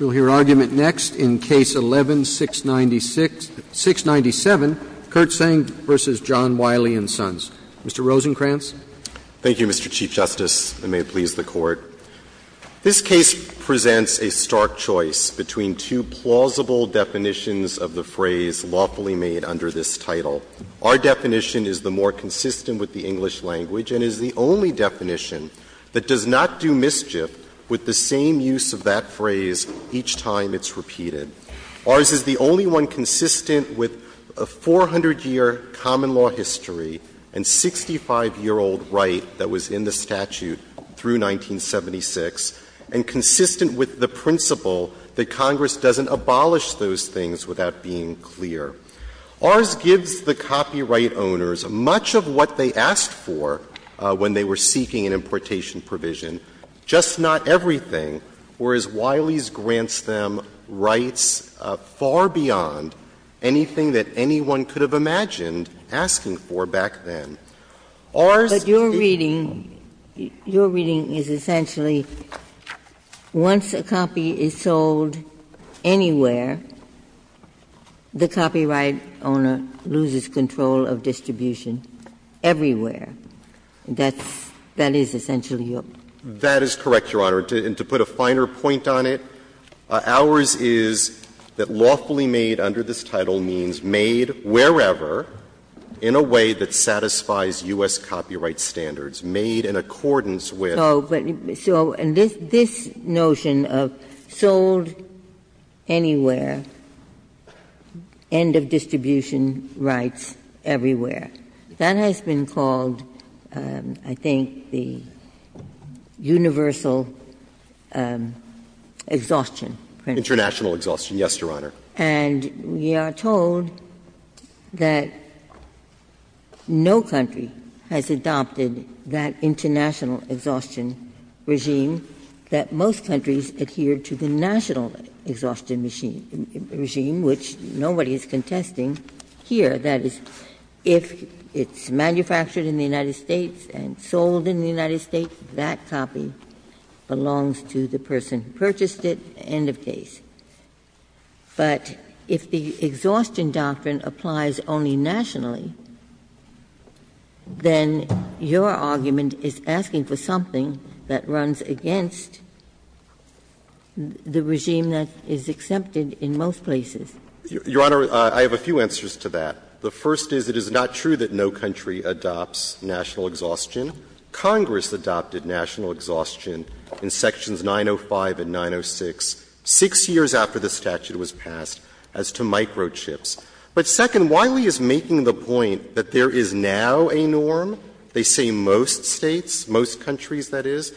We'll hear argument next in Case 11-697, Kirtsaeng v. John Wiley & Sons. Mr. Rosenkranz. Thank you, Mr. Chief Justice, and may it please the Court. This case presents a stark choice between two plausible definitions of the phrase lawfully made under this title. Our definition is the more consistent with the English language and is the only definition that does not do mischief with the same use of that phrase each time it's repeated. Ours is the only one consistent with a 400-year common law history and 65-year-old right that was in the statute through 1976, and consistent with the principle that Congress doesn't abolish those things without being clear. Ours gives the copyright owners much of what they asked for when they were seeking an importation provision, just not everything, whereas Wiley's grants them rights far beyond anything that anyone could have imagined asking for back then. Ours is the only one. And the right owner loses control of distribution everywhere. That's — that is essentially your — That is correct, Your Honor. And to put a finer point on it, ours is that lawfully made under this title means made wherever in a way that satisfies U.S. copyright standards, made in accordance with — So this notion of sold anywhere, end of distribution rights everywhere, that has been called, I think, the universal exhaustion principle. International exhaustion, yes, Your Honor. And we are told that no country has adopted that international exhaustion regime, that most countries adhere to the national exhaustion regime, which nobody is contesting here, that is, if it's manufactured in the United States and sold in the United States, but if the exhaustion doctrine applies only nationally, then your argument is asking for something that runs against the regime that is accepted in most places. Your Honor, I have a few answers to that. The first is it is not true that no country adopts national exhaustion. Congress adopted national exhaustion in sections 905 and 906, six years after the statute was passed, as to microchips. But second, Wiley is making the point that there is now a norm. They say most States, most countries, that is.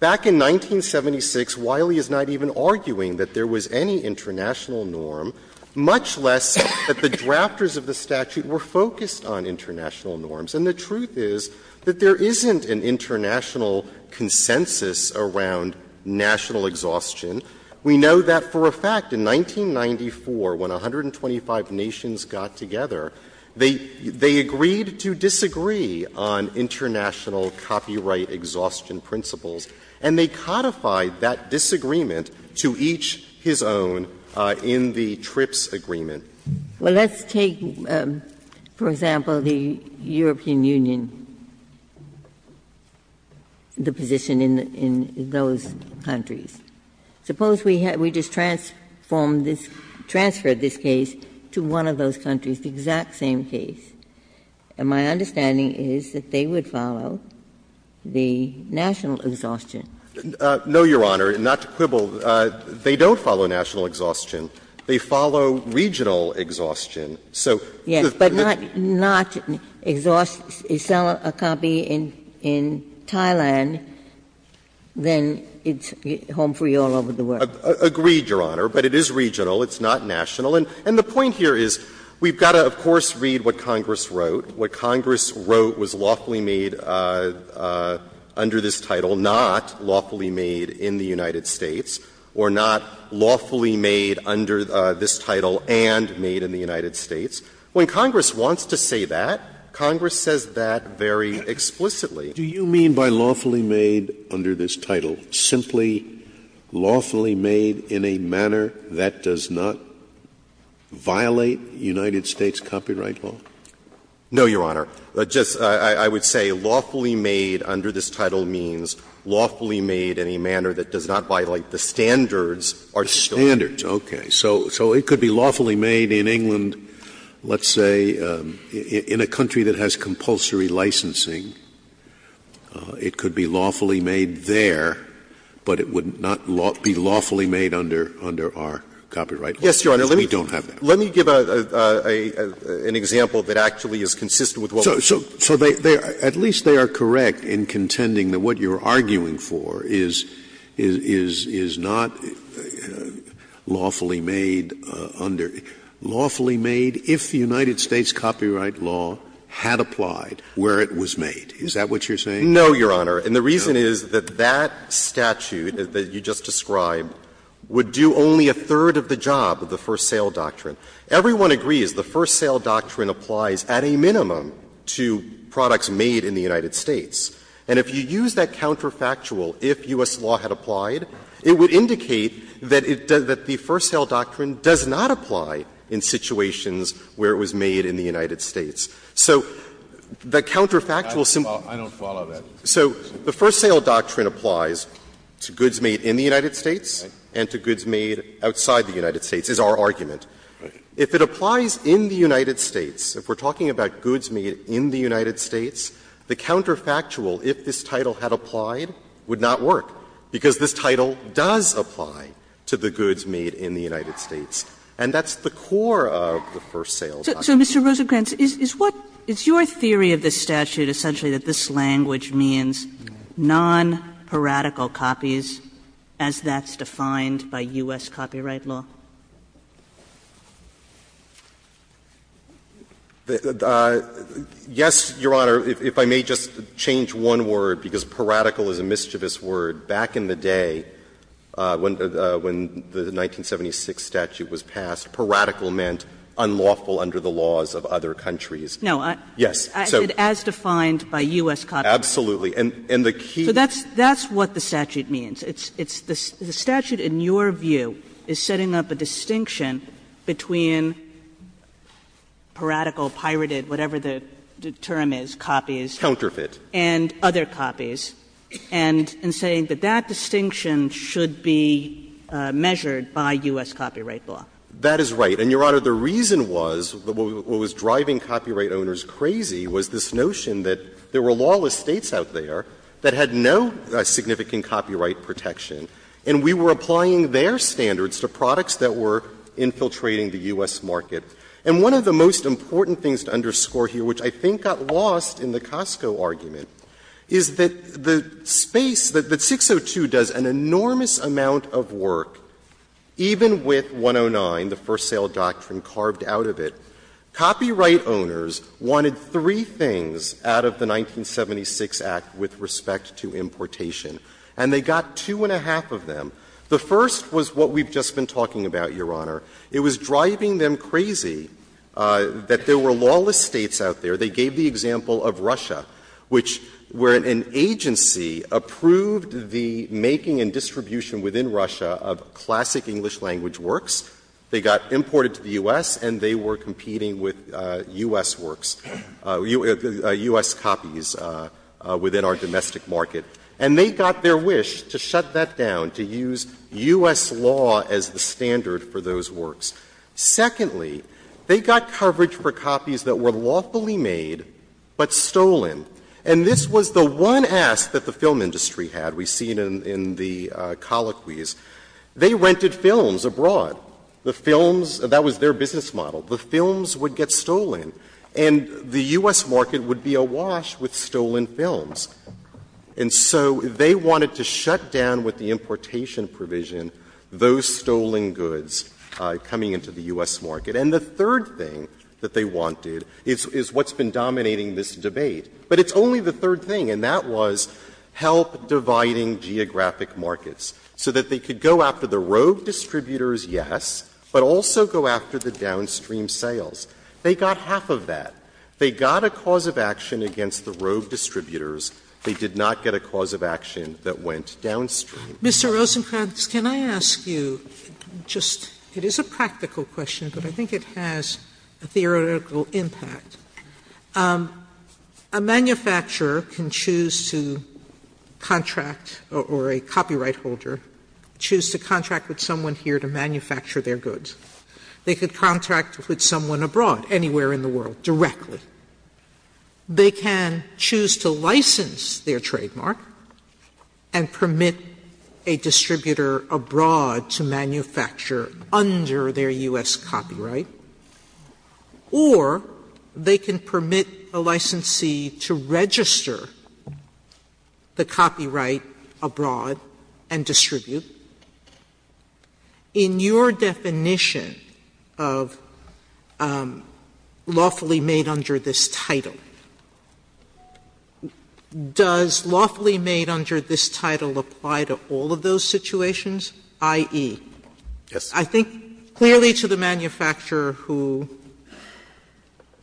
Back in 1976, Wiley is not even arguing that there was any international norm, much less that the drafters of the statute were focused on international norms. And the truth is that there isn't an international consensus around national exhaustion. We know that for a fact, in 1994, when 125 nations got together, they agreed to disagree on international copyright exhaustion principles, and they codified that disagreement to each his own in the TRIPS agreement. Ginsburg. Well, let's take, for example, the European Union, the position in those countries. Suppose we just transformed this, transferred this case to one of those countries, the exact same case. My understanding is that they would follow the national exhaustion. No, Your Honor, and not to quibble, they don't follow national exhaustion. They follow regional exhaustion. So the question is the same. Ginsburg. Yes, but not exhaust a copy in Thailand, then it's home free all over the world. Agreed, Your Honor. But it is regional. It's not national. And the point here is we've got to, of course, read what Congress wrote. What Congress wrote was lawfully made under this title, not lawfully made in the United States, or not lawfully made under this title and made in the United States. When Congress wants to say that, Congress says that very explicitly. Do you mean by lawfully made under this title, simply lawfully made in a manner that does not violate United States copyright law? No, Your Honor. Just, I would say lawfully made under this title means lawfully made in a manner that does not violate the standards or standards. Standards, okay. So it could be lawfully made in England, let's say, in a country that has compulsory licensing. It could be lawfully made there, but it would not be lawfully made under our copyright law, because we don't have that. Yes, Your Honor. Let me give an example that actually is consistent with what we're saying. So they, at least they are correct in contending that what you're arguing for is not lawfully made under, lawfully made if the United States copyright law had applied where it was made. Is that what you're saying? No, Your Honor. And the reason is that that statute that you just described would do only a third of the job of the first sale doctrine. Everyone agrees the first sale doctrine applies at a minimum to products made in the United States. And if you use that counterfactual, if U.S. law had applied, it would indicate that it does, that the first sale doctrine does not apply in situations where it was made in the United States. So the counterfactual simply. I don't follow that. So the first sale doctrine applies to goods made in the United States and to goods made outside the United States is our argument. If it applies in the United States, if we're talking about goods made in the United States, the counterfactual, if this title had applied, would not work, because this title does apply to the goods made in the United States. And that's the core of the first sale doctrine. So, Mr. Rosenkranz, is what, is your theory of this statute essentially that this language means non-paradical copies as that's defined by U.S. copyright law? Rosenkranz, Yes, Your Honor. If I may just change one word, because paradical is a mischievous word. Back in the day, when the 1976 statute was passed, paradical meant unlawful under the laws of other countries. Kagan, No. Rosenkranz, Yes. Kagan, As defined by U.S. copyright law. Rosenkranz, Absolutely. And the key. Kagan, So that's what the statute means. The statute, in your view, is setting up a distinction between paradical, pirated, whatever the term is, copies. Rosenkranz, Counterfeit. Kagan, And other copies, and saying that that distinction should be measured by U.S. copyright law. Rosenkranz, That is right. And, Your Honor, the reason was, what was driving copyright owners crazy was this notion that there were lawless States out there that had no significant copyright protection, and we were applying their standards to products that were infiltrating the U.S. market. And one of the most important things to underscore here, which I think got lost in the Costco argument, is that the space, that 602 does an enormous amount of work, even with 109, the First Sale Doctrine, carved out of it. Copyright owners wanted three things out of the 1976 Act with respect to importation. And they got two and a half of them. The first was what we've just been talking about, Your Honor. It was driving them crazy that there were lawless States out there. They gave the example of Russia, which, where an agency approved the making and distribution within Russia of classic English language works, they got imported to the U.S., and they were competing with U.S. works, U.S. copies within our domestic market. And they got their wish to shut that down, to use U.S. law as the standard for those works. Secondly, they got coverage for copies that were lawfully made, but stolen. And this was the one ask that the film industry had. We've seen in the colloquies. They rented films abroad. The films, that was their business model. The films would get stolen, and the U.S. market would be awash with stolen films. And so they wanted to shut down with the importation provision those stolen goods coming into the U.S. market. And the third thing that they wanted is what's been dominating this debate. But it's only the third thing, and that was help dividing geographic markets, so that they could go after the rogue distributors, yes, but also go after the downstream sales. They got half of that. They got a cause of action against the rogue distributors. They did not get a cause of action that went downstream. Sotomayor, Mr. Rosenkranz, can I ask you, just, it is a practical question, but I think it has a theoretical impact. A manufacturer can choose to contract, or a copyright holder, choose to contract with someone here to manufacture their goods. They could contract with someone abroad, anywhere in the world, directly. They can choose to license their trademark and permit a distributor abroad to manufacture under their U.S. copyright, or they can permit a licensee to register the copyright abroad and distribute. In your definition of lawfully made under this title, does lawfully made under this title apply to all of those situations? i.e., I think clearly to the manufacturer who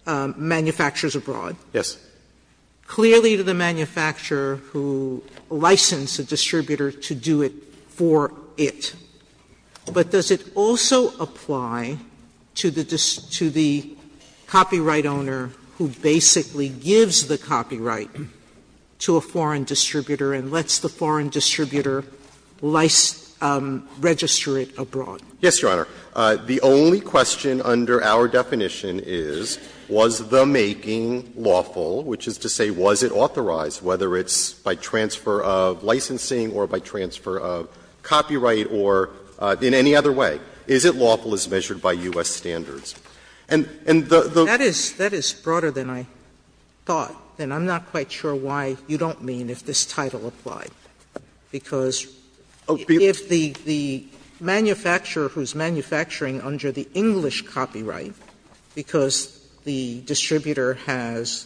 manufactures abroad. Yes. Sotomayor, clearly to the manufacturer who licensed a distributor to do it for it. But does it also apply to the copyright owner who basically gives the copyright to a foreign distributor and lets the foreign distributor register it abroad? Yes, Your Honor. The only question under our definition is, was the making lawful, which is to say, was it authorized, whether it's by transfer of licensing or by transfer of copyright or in any other way? Is it lawful as measured by U.S. standards? And the the That is broader than I thought, and I'm not quite sure why you don't mean if this manufacturing under the English copyright, because the distributor has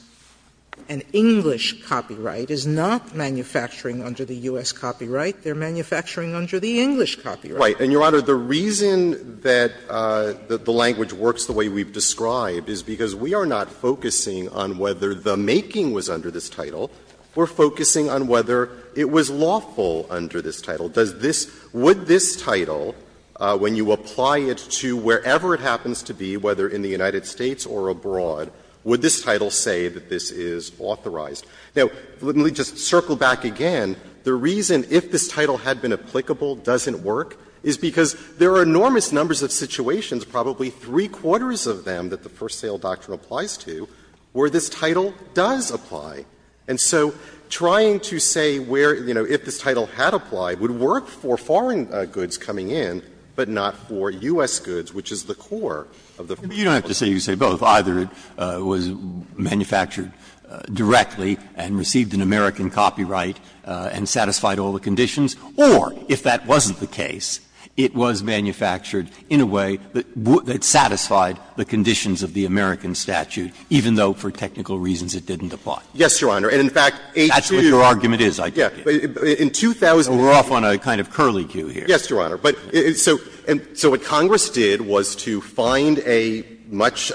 an English copyright, is not manufacturing under the U.S. copyright. They're manufacturing under the English copyright. Right. And, Your Honor, the reason that the language works the way we've described is because we are not focusing on whether the making was under this title. We're focusing on whether it was lawful under this title. Does this – would this title, when you apply it to wherever it happens to be, whether in the United States or abroad, would this title say that this is authorized? Now, let me just circle back again. The reason if this title had been applicable doesn't work is because there are enormous numbers of situations, probably three-quarters of them that the first sale doctrine applies to, where this title does apply. And so trying to say where, you know, if this title had applied would work for foreign goods coming in, but not for U.S. goods, which is the core of the first. Breyer. You don't have to say you say both. Either it was manufactured directly and received an American copyright and satisfied all the conditions, or if that wasn't the case, it was manufactured in a way that satisfied the conditions of the American statute, even though for technical reasons it didn't apply. Yes, Your Honor. And in fact, H.Q. That's what your argument is, I take it. Yeah. But in 2008 – We're off on a kind of curly queue here. Yes, Your Honor. But so what Congress did was to find a much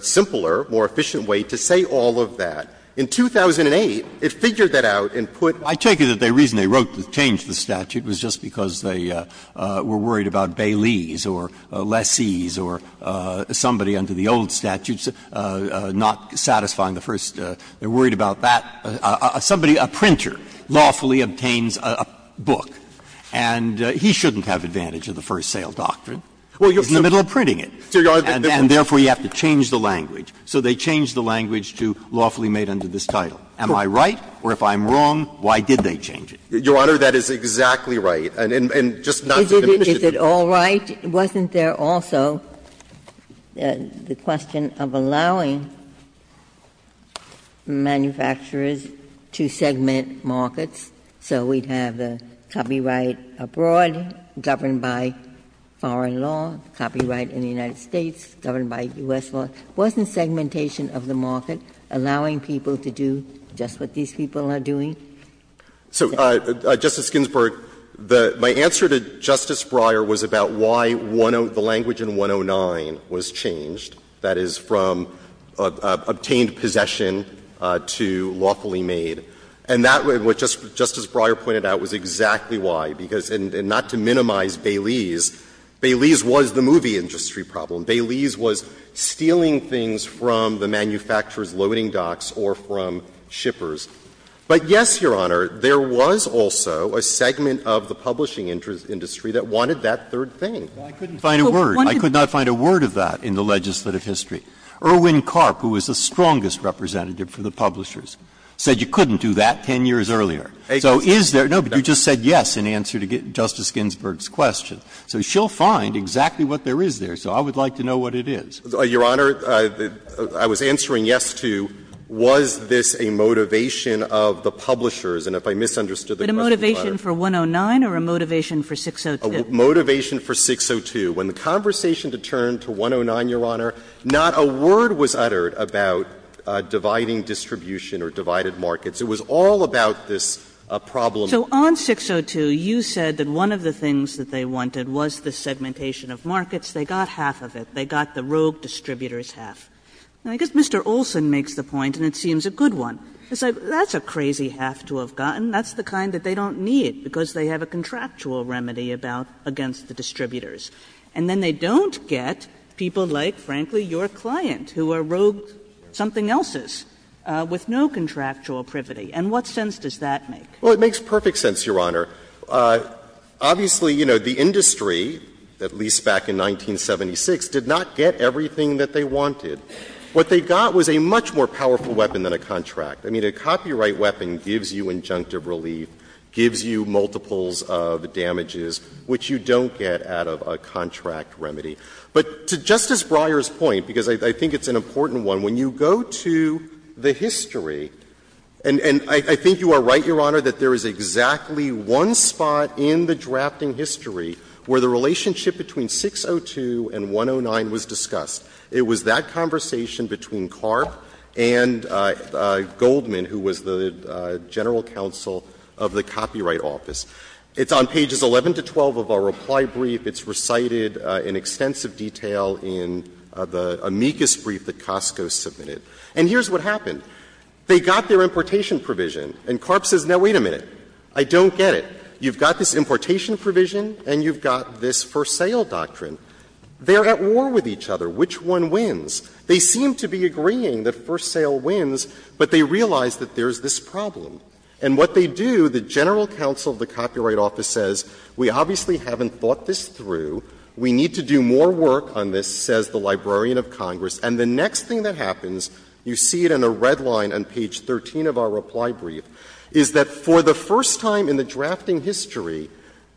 simpler, more efficient way to say all of that. In 2008, it figured that out and put – I take it that the reason they wrote to change the statute was just because they were worried about bailees or lessees or somebody under the old statutes not satisfying the first – they were worried about that – somebody, a printer, lawfully obtains a book and he shouldn't have advantage of the first sale doctrine. He's in the middle of printing it. And therefore, you have to change the language. So they changed the language to lawfully made under this title. Am I right? Or if I'm wrong, why did they change it? Your Honor, that is exactly right. And just not to diminish it. Is it all right? Wasn't there also the question of allowing manufacturers to segment markets? So we'd have the copyright abroad governed by foreign law, copyright in the United States governed by U.S. law. Wasn't segmentation of the market allowing people to do just what these people are doing? So, Justice Ginsburg, my answer to Justice Breyer was about why the language in 109 was changed, that is, from obtained possession to lawfully made. And that, what Justice Breyer pointed out, was exactly why. Because not to minimize bailees, bailees was the movie industry problem. Bailees was stealing things from the manufacturer's loading docks or from shippers. But, yes, Your Honor, there was also a segment of the publishing industry that wanted that third thing. Breyer, I couldn't find a word. I could not find a word of that in the legislative history. Erwin Karp, who was the strongest representative for the publishers, said you couldn't do that 10 years earlier. So is there? No, but you just said yes in answer to Justice Ginsburg's question. So she'll find exactly what there is there. So I would like to know what it is. Your Honor, I was answering yes to, was this a motivation of the publishers? And if I misunderstood the question, Your Honor. But a motivation for 109 or a motivation for 602? A motivation for 602. When the conversation turned to 109, Your Honor, not a word was uttered about dividing distribution or divided markets. It was all about this problem. So on 602, you said that one of the things that they wanted was the segmentation of markets. They got half of it. They got the rogue distributors' half. And I guess Mr. Olson makes the point, and it seems a good one. He's like, that's a crazy half to have gotten. That's the kind that they don't need because they have a contractual remedy about against the distributors. And then they don't get people like, frankly, your client, who are rogue something else's with no contractual privity. And what sense does that make? Well, it makes perfect sense, Your Honor. Obviously, you know, the industry, at least back in 1976, did not get everything that they wanted. What they got was a much more powerful weapon than a contract. I mean, a copyright weapon gives you injunctive relief, gives you multiples of damages, which you don't get out of a contract remedy. But to Justice Breyer's point, because I think it's an important one, when you go to the history, and I think you are right, Your Honor, that there is exactly one thing There is one spot in the drafting history where the relationship between 602 and 109 was discussed. It was that conversation between Karp and Goldman, who was the general counsel of the Copyright Office. It's on pages 11 to 12 of our reply brief. It's recited in extensive detail in the amicus brief that Costco submitted. And here's what happened. They got their importation provision, and Karp says, no, wait a minute. I don't get it. You've got this importation provision, and you've got this first sale doctrine. They're at war with each other. Which one wins? They seem to be agreeing that first sale wins, but they realize that there's this problem. And what they do, the general counsel of the Copyright Office says, we obviously haven't thought this through. We need to do more work on this, says the Librarian of Congress. And the next thing that happens, you see it in a red line on page 13 of our reply brief, is that for the first time in the drafting history,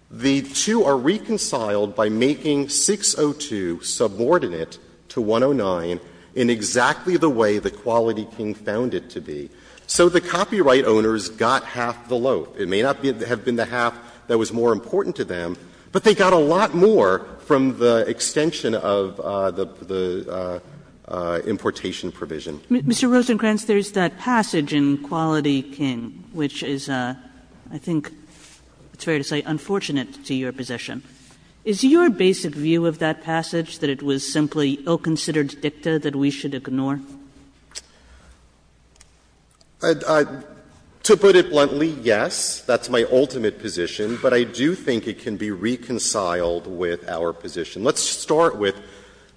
the two are reconciled by making 602 subordinate to 109 in exactly the way the Quality King found it to be. So the copyright owners got half the loaf. It may not have been the half that was more important to them, but they got a lot more from the extension of the importation provision. Kagan. Mr. Rosenkranz, there's that passage in Quality King which is, I think it's fair to say, unfortunate to your position. Is your basic view of that passage that it was simply ill-considered dicta that we should ignore? Rosenkranz. To put it bluntly, yes, that's my ultimate position. But I do think it can be reconciled with our position. Let's start with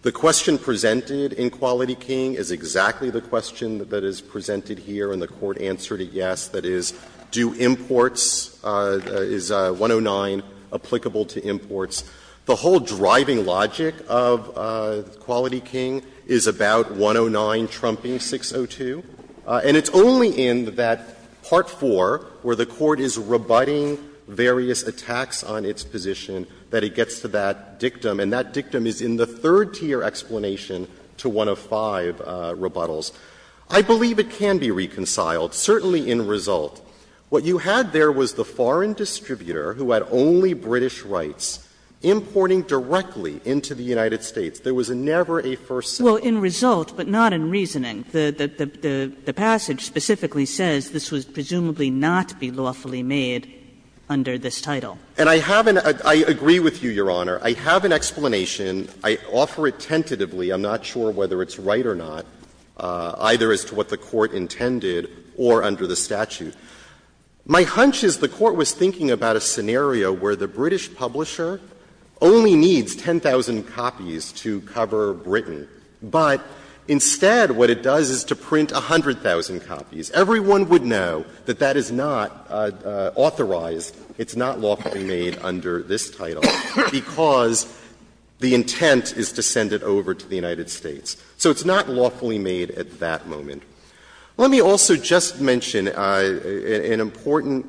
the question presented in Quality King is exactly the question that is presented here and the Court answered it yes, that is, do imports, is 109 applicable to imports? The whole driving logic of Quality King is about 109 trumping 602. And it's only in that Part IV where the Court is rebutting various attacks on its position that it gets to that dictum. And that dictum is in the third tier explanation to one of five rebuttals. I believe it can be reconciled, certainly in result. What you had there was the foreign distributor who had only British rights importing directly into the United States. There was never a first sentence. Well, in result, but not in reasoning. The passage specifically says this was presumably not to be lawfully made under this title. And I have an – I agree with you, Your Honor. I have an explanation. I offer it tentatively. I'm not sure whether it's right or not, either as to what the Court intended or under the statute. My hunch is the Court was thinking about a scenario where the British publisher only needs 10,000 copies to cover Britain, but instead what it does is to print 100,000 copies. Everyone would know that that is not authorized, it's not lawfully made under this title, because the intent is to send it over to the United States. So it's not lawfully made at that moment. Let me also just mention an important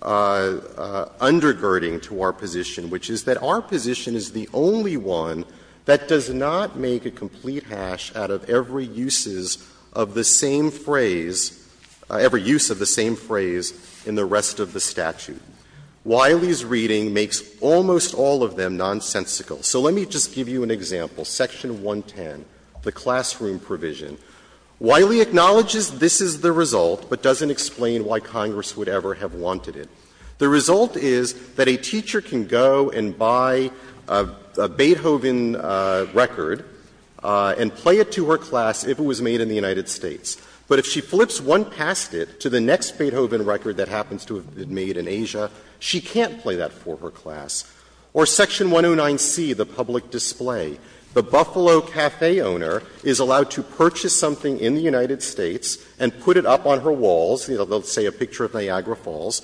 undergirding to our position, which is that our position is the only one that does not make a complete hash out of every uses of the same phrase – every use of the same phrase in the rest of the statute. Wiley's reading makes almost all of them nonsensical. So let me just give you an example. Section 110, the classroom provision. Wiley acknowledges this is the result, but doesn't explain why Congress would ever have wanted it. The result is that a teacher can go and buy a Beethoven record and play it to her class if it was made in the United States. But if she flips one past it to the next Beethoven record that happens to have been made in Asia, she can't play that for her class. Or Section 109C, the public display. The Buffalo Café owner is allowed to purchase something in the United States and put it up on her walls. They'll say a picture of Niagara Falls.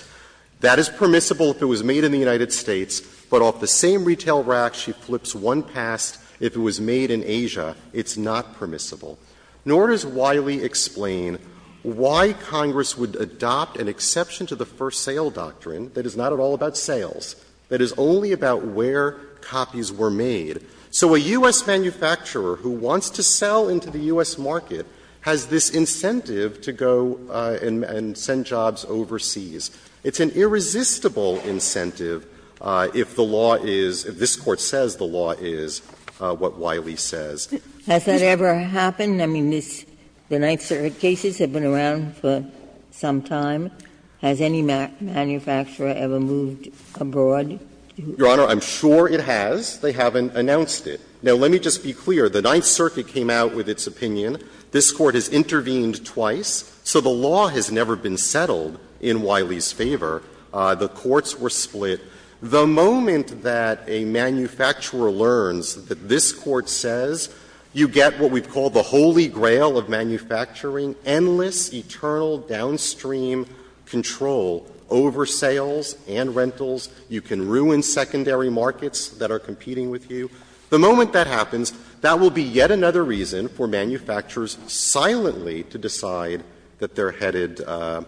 That is permissible if it was made in the United States. But off the same retail rack, she flips one past if it was made in Asia. It's not permissible. Nor does Wiley explain why Congress would adopt an exception to the first sale doctrine that is not at all about sales, that is only about where copies were made. So a U.S. manufacturer who wants to sell into the U.S. market has this incentive to go and send jobs overseas. It's an irresistible incentive if the law is, if this Court says the law is what Wiley says. Has that ever happened? I mean, this, the Ninth Circuit cases have been around for some time. Has any manufacturer ever moved abroad? Your Honor, I'm sure it has. They haven't announced it. Now, let me just be clear. The Ninth Circuit came out with its opinion. This Court has intervened twice. So the law has never been settled in Wiley's favor. The courts were split. The moment that a manufacturer learns that this Court says you get what we call the holy grail of manufacturing, endless, eternal downstream control over sales and rentals, you can ruin secondary markets that are competing with you. The moment that happens, that will be yet another reason for manufacturers silently to decide that they're headed, that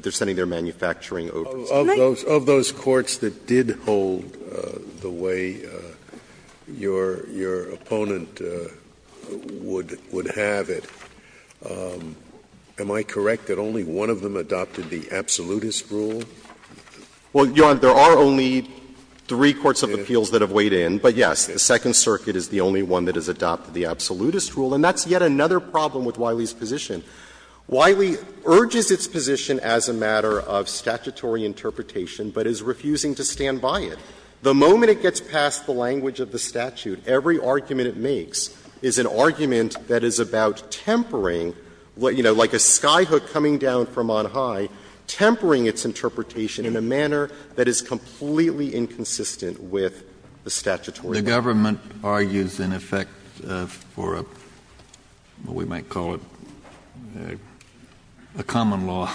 they're sending their manufacturing overseas. Scalia. Scalia. Of those courts that did hold the way your opponent would have it, am I correct that only one of them adopted the absolutist rule? Well, Your Honor, there are only three courts of appeals that have weighed in. But, yes, the Second Circuit is the only one that has adopted the absolutist rule. And that's yet another problem with Wiley's position. Wiley urges its position as a matter of statutory interpretation, but is refusing to stand by it. The moment it gets past the language of the statute, every argument it makes is an argument that is about tempering, you know, like a skyhook coming down from on high, tempering its interpretation in a manner that is completely inconsistent with the statutory law. The government argues, in effect, for a, what we might call it, a common law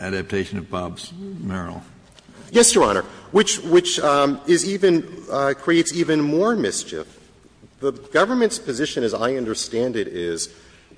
adaptation of Bob's Merrill. Yes, Your Honor, which is even, creates even more mischief. The government's position, as I understand it, is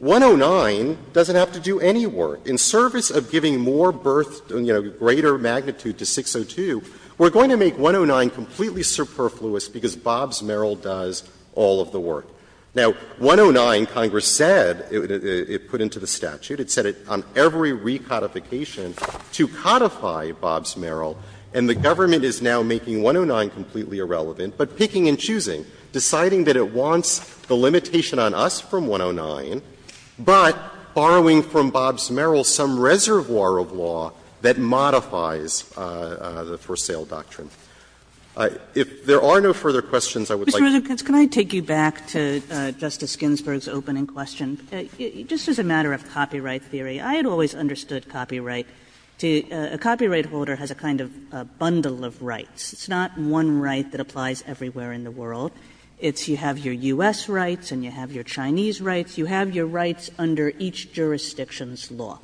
109 doesn't have to do any work. In service of giving more birth, you know, greater magnitude to 602, we're going to make 109 completely superfluous because Bob's Merrill does all of the work. Now, 109, Congress said, it put into the statute, it said on every recodification to codify Bob's Merrill, and the government is now making 109 completely irrelevant, but picking and choosing, deciding that it wants the limitation on us from 109, but borrowing from Bob's Merrill some reservoir of law that modifies the For Sale Doctrine. If there are no further questions, I would like to thank you. Kagan. Kagan. Mr. Ruzek, could I take you back to Justice Ginsburg's opening question? It just is a matter of copyright theory. I had always understood copyright to be the copyright holder has a kind of bundle of rights. It's not one right that applies everywhere in the world. You have your U.S. rights, and you have your Chinese rights. You have your rights under each jurisdiction's law.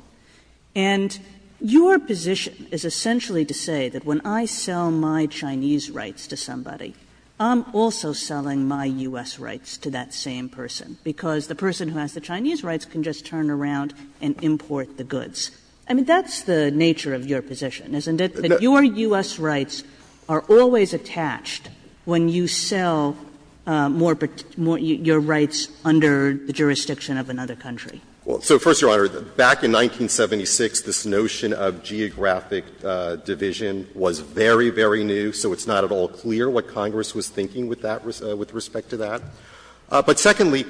And your position is essentially to say that when I sell my Chinese rights to somebody, I'm also selling my U.S. rights to that same person, because the person who has the Chinese rights can just turn around and import the goods. I mean, that's the nature of your position, isn't it? That your U.S. rights are always attached when you sell more of your rights under the jurisdiction of another country. Ruzek. Well, so, first, Your Honor, back in 1976, this notion of geographic division was very, very new, so it's not at all clear what Congress was thinking with that respect to that. But secondly,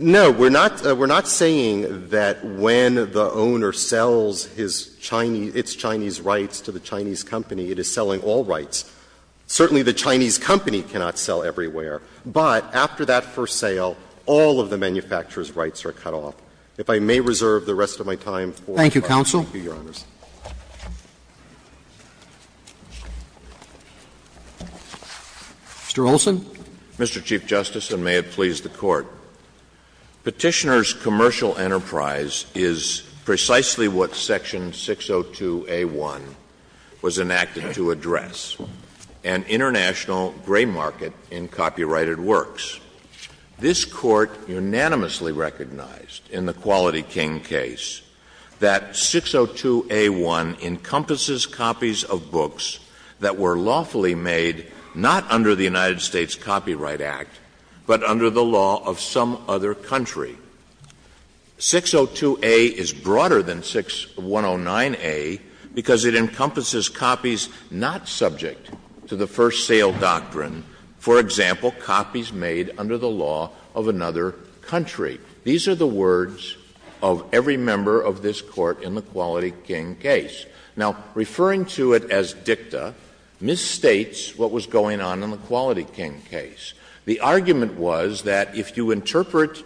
no, we're not saying that when the owner sells his Chinese, its Chinese rights to the Chinese company, it is selling all rights. Certainly, the Chinese company cannot sell everywhere, but after that first sale, all of the manufacturer's rights are cut off. If I may reserve the rest of my time for the Court. Thank you, counsel. Thank you, Your Honors. Mr. Olson. Mr. Chief Justice, and may it please the Court. Petitioner's commercial enterprise is precisely what Section 602A1 was enacted to address, an international gray market in copyrighted works. This Court unanimously recognized in the Quality King case that 602A1 encompasses copies of books that were lawfully made not under the United States Copyright Act, but under the law of some other country. 602A is broader than 609A because it encompasses copies not subject to the first sale, but copies made under the law of another country. These are the words of every member of this Court in the Quality King case. Now, referring to it as dicta misstates what was going on in the Quality King case. The argument was that if you interpret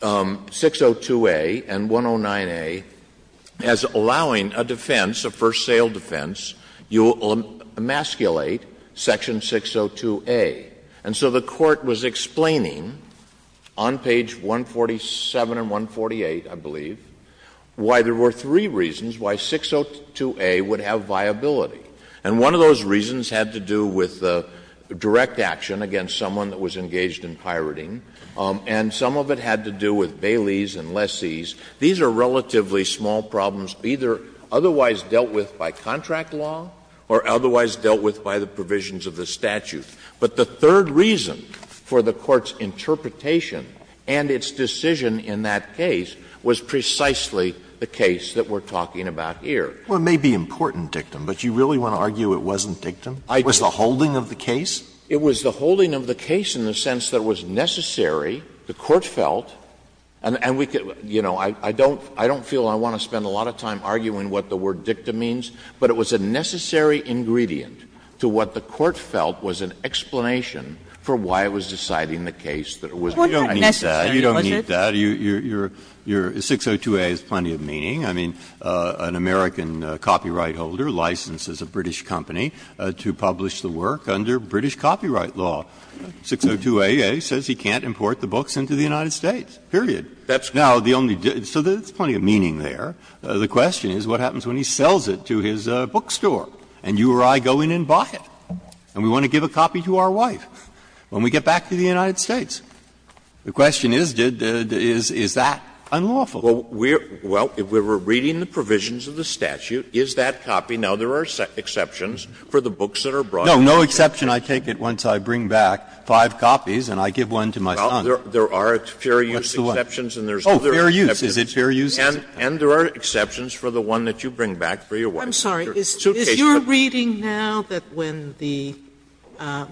602A and 109A as allowing a defense, a first sale defense, you will emasculate Section 602A. And so the Court was explaining on page 147 and 148, I believe, why there were three reasons why 602A would have viability. And one of those reasons had to do with direct action against someone that was engaged in pirating, and some of it had to do with baileys and lessees. These are relatively small problems either otherwise dealt with by contract law or otherwise dealt with by the provisions of the statute. But the third reason for the Court's interpretation and its decision in that case was precisely the case that we're talking about here. Alitoso, it may be important dictum, but you really want to argue it wasn't dictum? It was the holding of the case? It was the holding of the case in the sense that it was necessary, the Court felt, and we could, you know, I don't feel I want to spend a lot of time arguing what the word dicta means, but it was a necessary ingredient to what the Court felt was an explanation for why it was deciding the case that it was necessary. Breyer, you don't need that. Your 602A has plenty of meaning. I mean, an American copyright holder licenses a British company to publish the work under British copyright law. 602A says he can't import the books into the United States, period. Now, the only debt so there's plenty of meaning there. The question is what happens when he sells it to his bookstore and you or I go in and buy it? And we want to give a copy to our wife when we get back to the United States. The question is, is that unlawful? Well, we're reading the provisions of the statute. Is that copy? Now, there are exceptions for the books that are brought in. No, no exception. I take it once I bring back five copies and I give one to my son. Well, there are fair use exceptions and there's other exceptions. Oh, fair use. Is it fair use? And there are exceptions for the one that you bring back for your wife. I'm sorry. Is your reading now that when the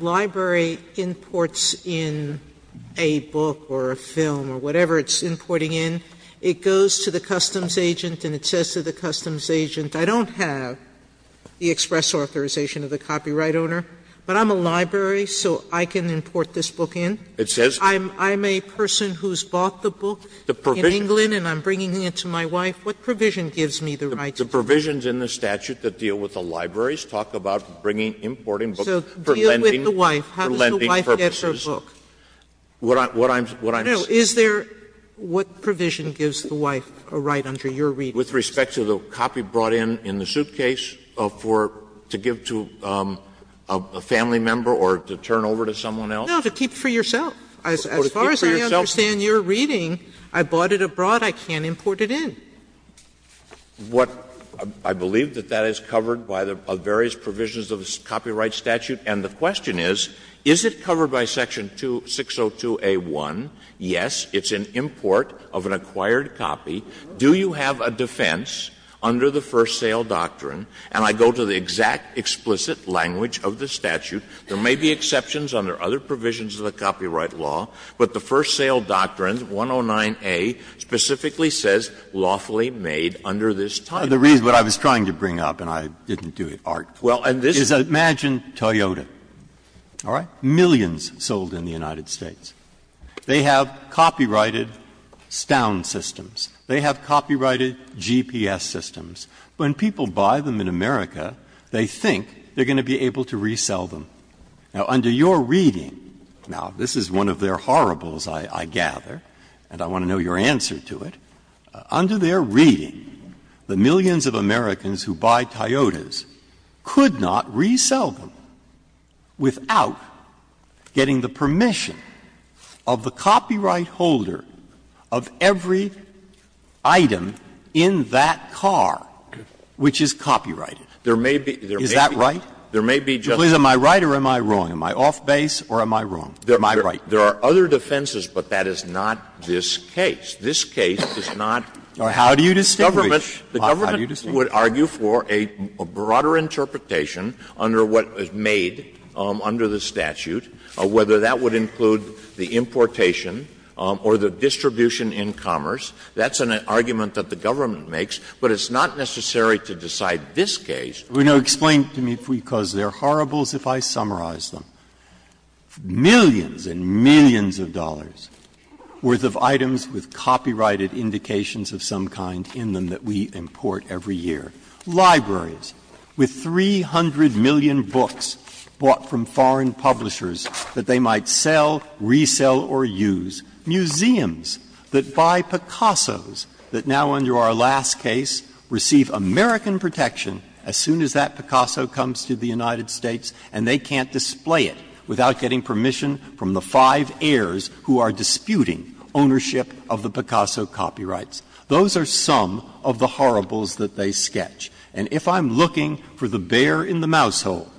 library imports in a book or a film or whatever it's importing in, it goes to the customs agent and it says to the customs agent, I don't have the express authorization of the copyright owner, but I'm a library, so I can import this book in? I'm a person who's bought the book in England and I'm bringing it to my wife. What provision gives me the right to do that? The provisions in the statute that deal with the libraries talk about bringing importing books for lending purposes. So deal with the wife. How does the wife get her book? What I'm saying is there what provision gives the wife a right under your reading? With respect to the copy brought in in the suitcase for to give to a family member or to turn over to someone else? No, to keep for yourself. As far as I understand your reading, I bought it abroad. I can't import it in. I believe that that is covered by the various provisions of the copyright statute. And the question is, is it covered by section 602A.1? Yes, it's an import of an acquired copy. Do you have a defense under the first sale doctrine? And I go to the exact explicit language of the statute. There may be exceptions under other provisions of the copyright law, but the first sale doctrine is not a law that is lawfully made under this title. Breyer. The reason I was trying to bring up, and I didn't do it artfully, is imagine Toyota, all right? Millions sold in the United States. They have copyrighted Stown systems. They have copyrighted GPS systems. When people buy them in America, they think they are going to be able to resell them. Now, under your reading, now, this is one of their horribles, I gather, and I want to know your answer to it. Under their reading, the millions of Americans who buy Toyotas could not resell them without getting the permission of the copyright holder of every item in that car which is copyrighted. Is that right? There may be just one. Please, am I right or am I wrong? Am I off-base or am I wrong? Am I right? There are other defenses, but that is not this case. This case is not how do you distinguish? The government would argue for a broader interpretation under what is made under the statute, whether that would include the importation or the distribution in commerce. That's an argument that the government makes, but it's not necessary to decide this case. Now, explain to me, because they are horribles, if I summarize them. Millions and millions of dollars' worth of items with copyrighted indications of some kind in them that we import every year. Libraries with 300 million books bought from foreign publishers that they might sell, resell, or use. Museums that buy Picassos that now, under our last case, receive American protection as soon as that Picasso comes to the United States, and they can't display it without getting permission from the five heirs who are disputing ownership of the Picasso copyrights. Those are some of the horribles that they sketch. And if I'm looking for the bear in the mousehole,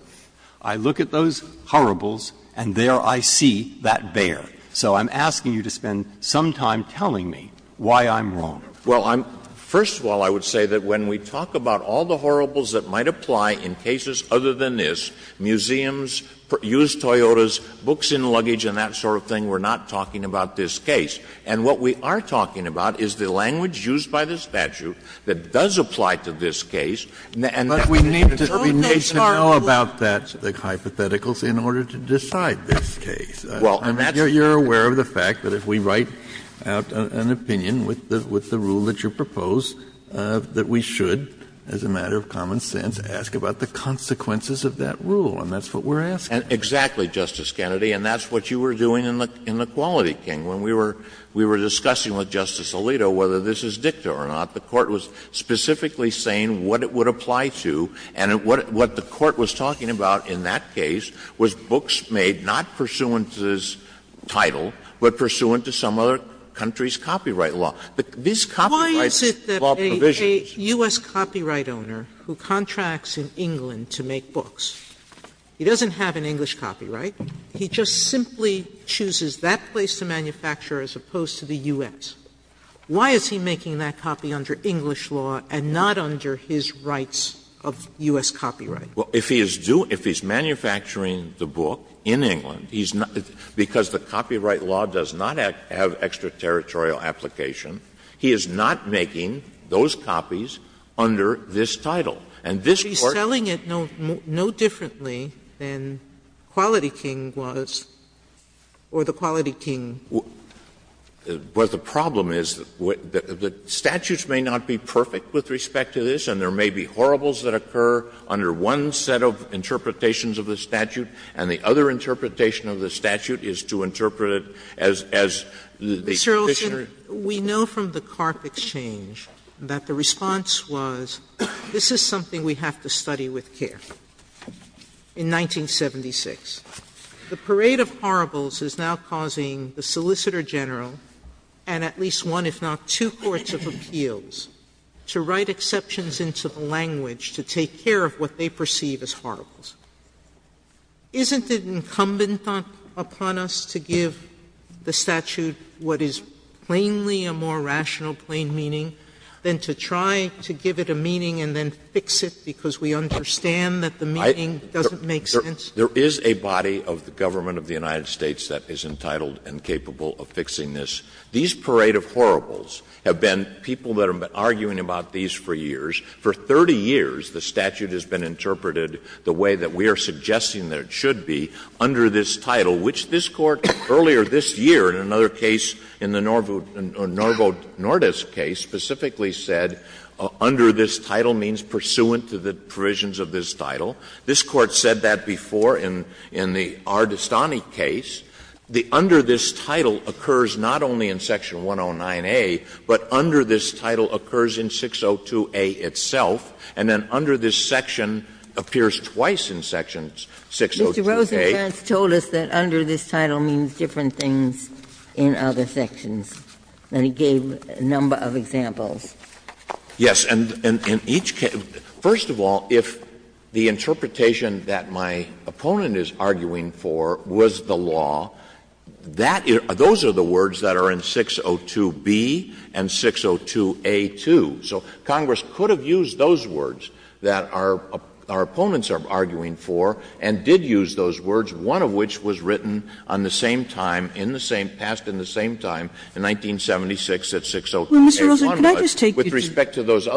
I look at those horribles and there I see that bear. So I'm asking you to spend some time telling me why I'm wrong. Well, I'm — first of all, I would say that when we talk about all the horribles that might apply in cases other than this, museums, used Toyotas, books in luggage and that sort of thing, we're not talking about this case. And what we are talking about is the language used by the statute that does apply to this case. And that we need to know about that hypothetical in order to decide this case. And you're aware of the fact that if we write out an opinion with the rule that you propose, that we should, as a matter of common sense, ask about the consequences of that rule. And that's what we're asking. Exactly, Justice Kennedy. And that's what you were doing in the Quality King. When we were discussing with Justice Alito whether this is dicta or not, the Court was specifically saying what it would apply to, and what the Court was talking about in that case was books made not pursuant to this title, but pursuant to some other country's copyright law. make a copy of a book. Sotomayor, why is it that a U.S. copyright owner who contracts in England to make books, he doesn't have an English copyright, he just simply chooses that place to manufacture as opposed to the U.S.? Why is he making that copy under English law and not under his rights of U.S. copyright? Well, if he is doing – if he's manufacturing the book in England, he's not – because the copyright law does not have extra-territorial application, he is not making those copies under this title. And this Court – But he's selling it no differently than Quality King was, or the Quality King – Well, the problem is the statutes may not be perfect with respect to this, and there is one set of interpretations of the statute, and the other interpretation of the statute is to interpret it as the conditioner – Mr. Olson, we know from the Carth Exchange that the response was, this is something we have to study with care, in 1976. The parade of horribles is now causing the Solicitor General and at least one, if not two, courts of appeals to write exceptions into the language to take care of what they perceive as horribles. Isn't it incumbent upon us to give the statute what is plainly a more rational, plain meaning, than to try to give it a meaning and then fix it because we understand that the meaning doesn't make sense? There is a body of the government of the United States that is entitled and capable of fixing this. These parade of horribles have been – people that have been arguing about these for years, for 30 years the statute has been interpreted the way that we are suggesting that it should be, under this title, which this Court earlier this year in another case, in the Norvo Nordis case, specifically said, under this title means pursuant to the provisions of this title. This Court said that before in the R. DeStany case. The under this title occurs not only in section 109A, but under this title occurs in 602A itself, and then under this section appears twice in section 602A. Ginsburg. Mr. Rosenkranz told us that under this title means different things in other sections. And he gave a number of examples. Yes. And in each case – first of all, if the interpretation that my opponent is arguing for was the law, that – those are the words that are in 602B and 602A, too. So Congress could have used those words that our opponents are arguing for and did use those words, one of which was written on the same time, in the same – passed in the same time, in 1976 at 602A. Well, Mr. Rosenkranz, can I just take you to the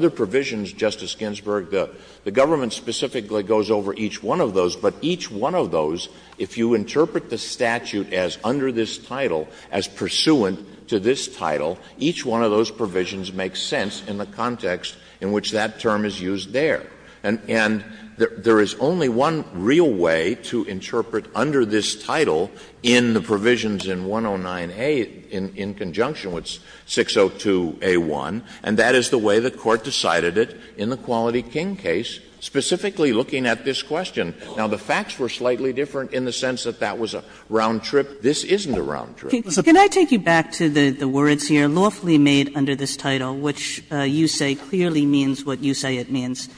other provisions, Justice Ginsburg? The government specifically goes over each one of those, but each one of those, if you interpret the statute as under this title, as pursuant to this title, each one of those provisions makes sense in the context in which that term is used there. And there is only one real way to interpret under this title in the provisions in 109A in conjunction with 602A1, and that is the way the Court decided it in the King case, specifically looking at this question. Now, the facts were slightly different in the sense that that was a round trip. This isn't a round trip. Kagan. Can I take you back to the words here, lawfully made under this title, which you say clearly means what you say it means?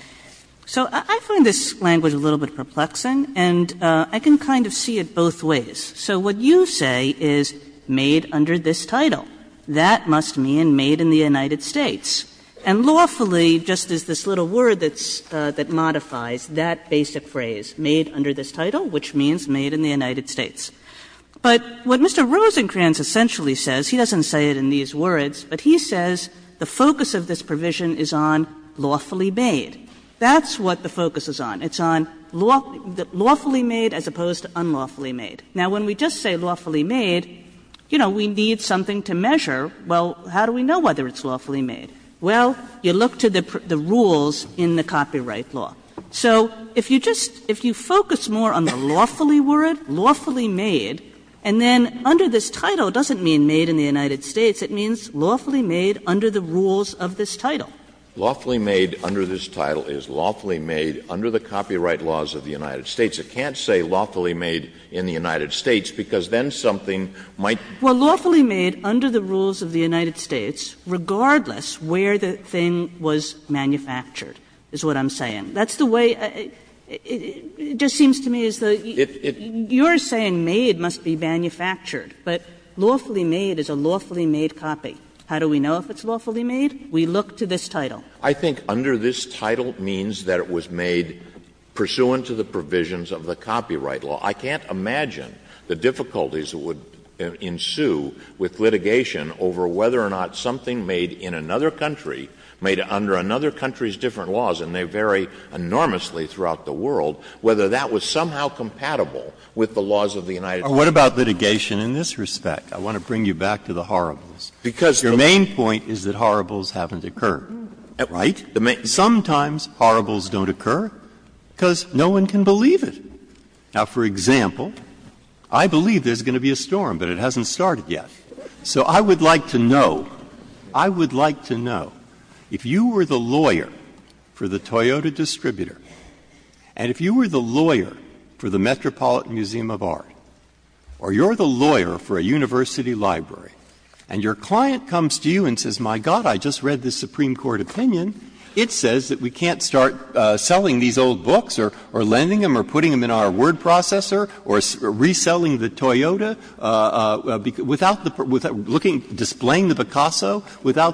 So I find this language a little bit perplexing, and I can kind of see it both ways. So what you say is made under this title. That must mean made in the United States. And lawfully just is this little word that modifies that basic phrase, made under this title, which means made in the United States. But what Mr. Rosenkranz essentially says, he doesn't say it in these words, but he says the focus of this provision is on lawfully made. That's what the focus is on. It's on lawfully made as opposed to unlawfully made. Now, when we just say lawfully made, you know, we need something to measure, well, how do we know whether it's lawfully made? Well, you look to the rules in the copyright law. So if you just — if you focus more on the lawfully word, lawfully made, and then under this title, it doesn't mean made in the United States. It means lawfully made under the rules of this title. Lawfully made under this title is lawfully made under the copyright laws of the United States. It can't say lawfully made in the United States, because then something might — Kagan. Well, lawfully made under the rules of the United States, regardless where the thing was manufactured, is what I'm saying. That's the way — it just seems to me as though you're saying made must be manufactured, but lawfully made is a lawfully made copy. How do we know if it's lawfully made? We look to this title. I think under this title means that it was made pursuant to the provisions of the copyright law. I can't imagine the difficulties that would ensue with litigation over whether or not something made in another country, made under another country's different laws, and they vary enormously throughout the world, whether that was somehow compatible with the laws of the United States. Breyer. What about litigation in this respect? I want to bring you back to the horribles. Because the main point is that horribles haven't occurred, right? Sometimes horribles don't occur, because no one can believe it. Now, for example, I believe there's going to be a storm, but it hasn't started yet. So I would like to know, I would like to know, if you were the lawyer for the Toyota distributor, and if you were the lawyer for the Metropolitan Museum of Art, or you're the lawyer for a university library, and your client comes to you and says, my God, I just read this Supreme Court opinion, it says that we can't start selling these old books, or lending them, or putting them in our word processor, or reselling the Toyota without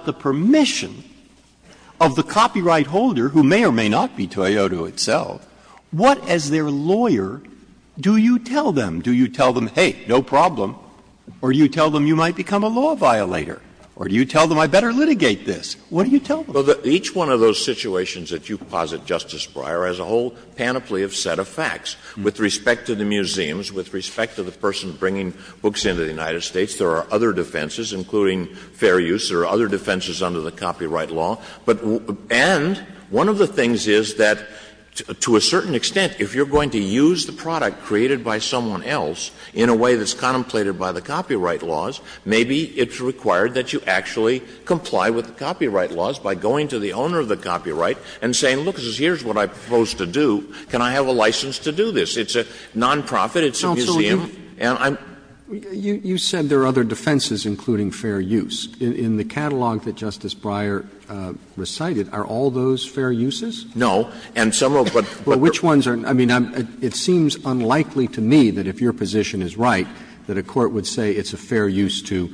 the permission of the copyright holder, who may or may not be Toyota itself, what, as their lawyer, do you tell them? Do you tell them, hey, no problem, or do you tell them you might become a law violator, or do you tell them I better litigate this? What do you tell them? Well, each one of those situations that you posit, Justice Breyer, has a whole panoply of set of facts with respect to the museums, with respect to the person bringing books into the United States. There are other defenses, including fair use. There are other defenses under the copyright law. But — and one of the things is that, to a certain extent, if you're going to use the product created by someone else in a way that's contemplated by the copyright laws, maybe it's required that you actually comply with the copyright laws by going to the owner of the copyright and saying, look, here's what I propose to do, can I have a license to do this? It's a nonprofit, it's a museum, and I'm — You said there are other defenses, including fair use. In the catalog that Justice Breyer recited, are all those fair uses? No. And some of what — Well, which ones are — I mean, it seems unlikely to me that if your position is right, that a court would say it's a fair use to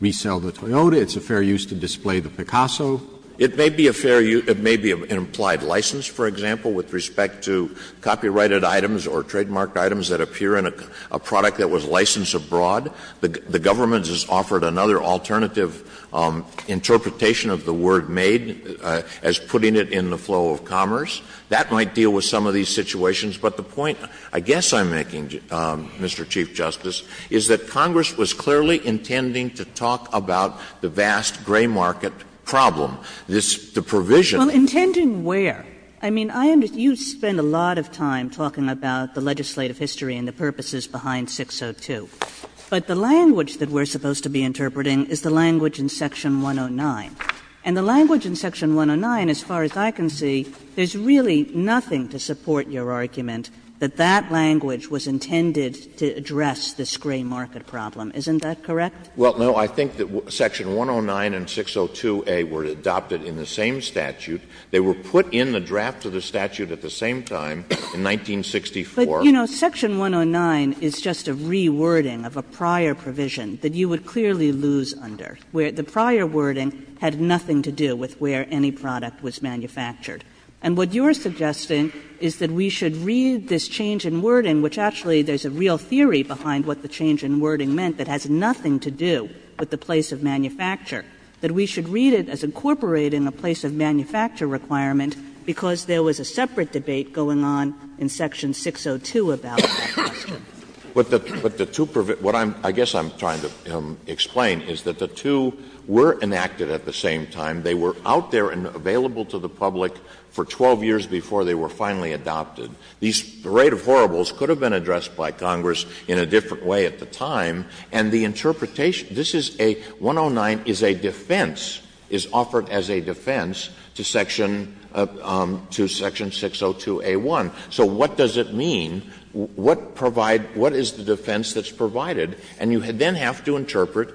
resell the Toyota, it's a fair use to display the Picasso. It may be a fair use — it may be an implied license, for example, with respect to copyrighted items or trademarked items that appear in a product that was licensed abroad. The government has offered another alternative interpretation of the word made as putting it in the flow of commerce. That might deal with some of these situations. But the point, I guess, I'm making, Mr. Chief Justice, is that Congress was clearly intending to talk about the vast gray market problem. This — the provision — Well, intending where? I mean, I — you spend a lot of time talking about the legislative history and the purposes behind 602. But the language that we're supposed to be interpreting is the language in section 109. And the language in section 109, as far as I can see, there's really nothing to support your argument that that language was intended to address this gray market problem. Isn't that correct? Well, no. I think that section 109 and 602a were adopted in the same statute. They were put in the draft of the statute at the same time in 1964. But, you know, section 109 is just a rewording of a prior provision that you would clearly lose under, where the prior wording had nothing to do with where any product was manufactured. And what you're suggesting is that we should read this change in wording, which actually there's a real theory behind what the change in wording meant that has nothing to do with the place of manufacture, that we should read it as incorporating a place of manufacture requirement because there was a separate debate going on in section 602 about that question. But the two — what I'm — I guess I'm trying to explain is that the two were enacted at the same time. They were out there and available to the public for 12 years before they were finally adopted. These parade of horribles could have been addressed by Congress in a different way at the time, and the interpretation — this is a — 109 is a defense, is offered as a defense to section — to section 602a1. So what does it mean? What provide — what is the defense that's provided? And you then have to interpret,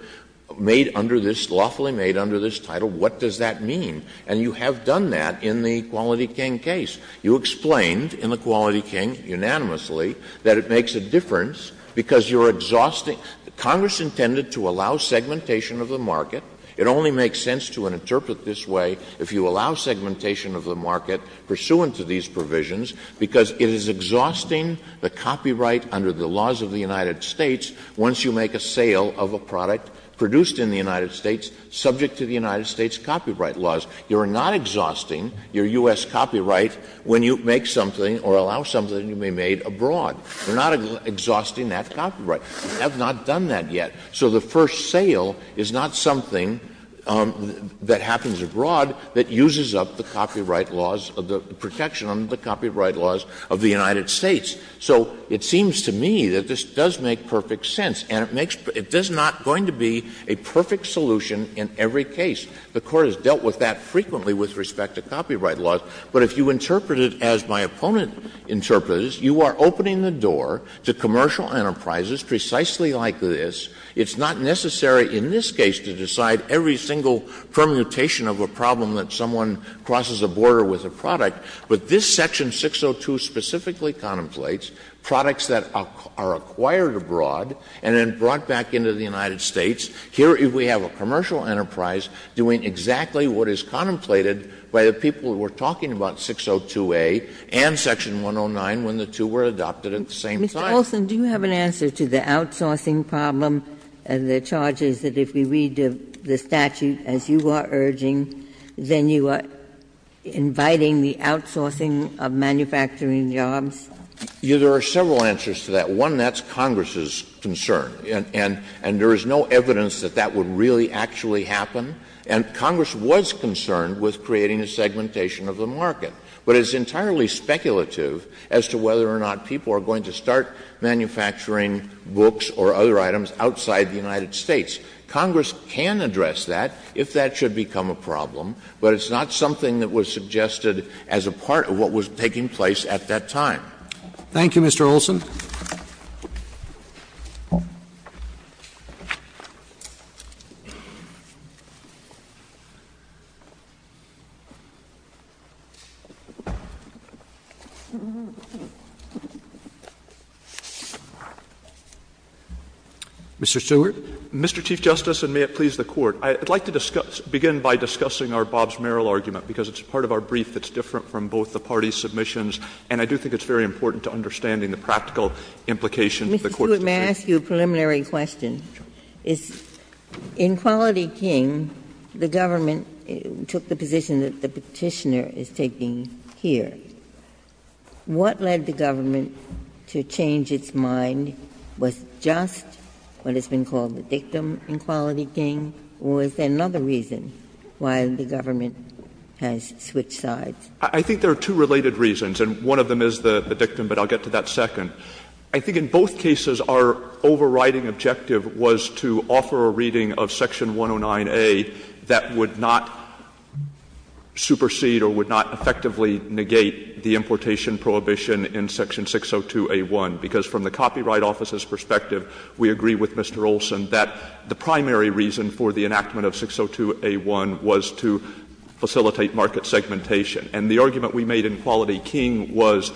made under this — lawfully made under this title, what does that mean? And you have done that in the Quality King case. You explained in the Quality King unanimously that it makes a difference because you're exhausting — Congress intended to allow segmentation of the market. It only makes sense to interpret this way if you allow segmentation of the market pursuant to these provisions because it is exhausting the copyright under the laws of the United States once you make a sale of a product produced in the United States subject to the United States copyright laws. You're not exhausting your U.S. copyright when you make something or allow something to be made abroad. You're not exhausting that copyright. You have not done that yet. So the first sale is not something that happens abroad that uses up the copyright laws — the protection under the copyright laws of the United States. So it seems to me that this does make perfect sense, and it makes — it is not going to be a perfect solution in every case. The Court has dealt with that frequently with respect to copyright laws. But if you interpret it as my opponent interprets it, you are opening the door to commercial enterprises precisely like this. It's not necessary in this case to decide every single permutation of a problem that someone crosses a border with a product. But this Section 602 specifically contemplates products that are acquired abroad and then brought back into the United States. Here, we have a commercial enterprise doing exactly what is contemplated by the people who are talking about 602A and Section 109 when the two were adopted at the same time. Ginsburg. Mr. Olson, do you have an answer to the outsourcing problem and the charges that if we read the statute as you are urging, then you are inviting the outsourcing of manufacturing jobs? Olson. There are several answers to that. One, that's Congress's concern, and there is no evidence that that would really actually happen. And Congress was concerned with creating a segmentation of the market. But it's entirely speculative as to whether or not people are going to start manufacturing books or other items outside the United States. Congress can address that if that should become a problem, but it's not something that was suggested as a part of what was taking place at that time. Thank you, Mr. Olson. Mr. Stewart. Mr. Chief Justice, and may it please the Court, I would like to discuss — begin by discussing our Bobbs-Merrill argument, because it's part of our brief that's in both the parties' submissions, and I do think it's very important to understanding the practical implications of the Court's decision. Ginsburg. Mr. Stewart, may I ask you a preliminary question? Sure. In Quality King, the government took the position that the Petitioner is taking here. What led the government to change its mind? Was it just what has been called the dictum in Quality King, or is there another reason why the government has switched sides? I think there are two related reasons, and one of them is the dictum, but I'll get to that second. I think in both cases our overriding objective was to offer a reading of section 109A that would not supersede or would not effectively negate the importation prohibition in section 602A1, because from the Copyright Office's perspective, we agree with Mr. Olson that the primary reason for the enactment of 602A1 was to facilitate market segmentation. And the argument we made in Quality King was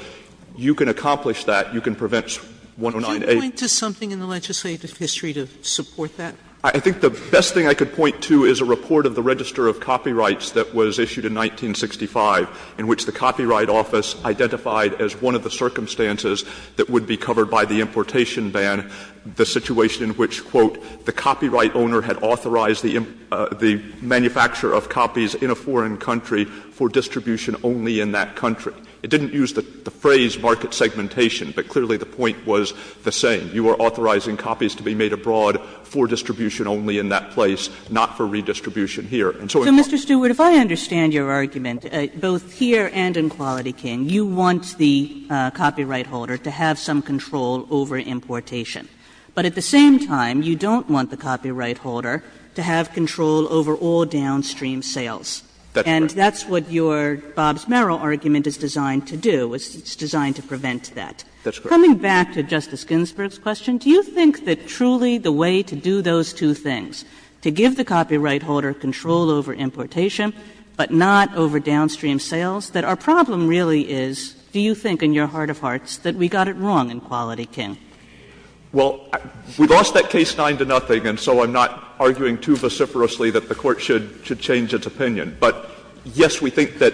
you can accomplish that, you can prevent 109A. Could you point to something in the legislative history to support that? I think the best thing I could point to is a report of the Register of Copyrights that was issued in 1965 in which the Copyright Office identified as one of the circumstances that would be covered by the importation ban the situation in which, quote, the copyright owner had authorized the manufacture of copies in a foreign country for distribution only in that country. It didn't use the phrase market segmentation, but clearly the point was the same. You are authorizing copies to be made abroad for distribution only in that place, not for redistribution here. And so in part of that, I think that's a good argument. Kagan. So, Mr. Stewart, if I understand your argument, both here and in Quality King, you want the copyright holder to have some control over importation, but at the same time, you don't want the copyright holder to have control over all downstream sales. And that's what your Bobbs-Merrill argument is designed to do. It's designed to prevent that. Coming back to Justice Ginsburg's question, do you think that truly the way to do those two things, to give the copyright holder control over importation, but not over downstream sales, that our problem really is, do you think in your heart of hearts, that we got it wrong in Quality King? Stewart. Well, we lost that case 9-0, and so I'm not arguing too vociferously that the Court should change its opinion. But, yes, we think that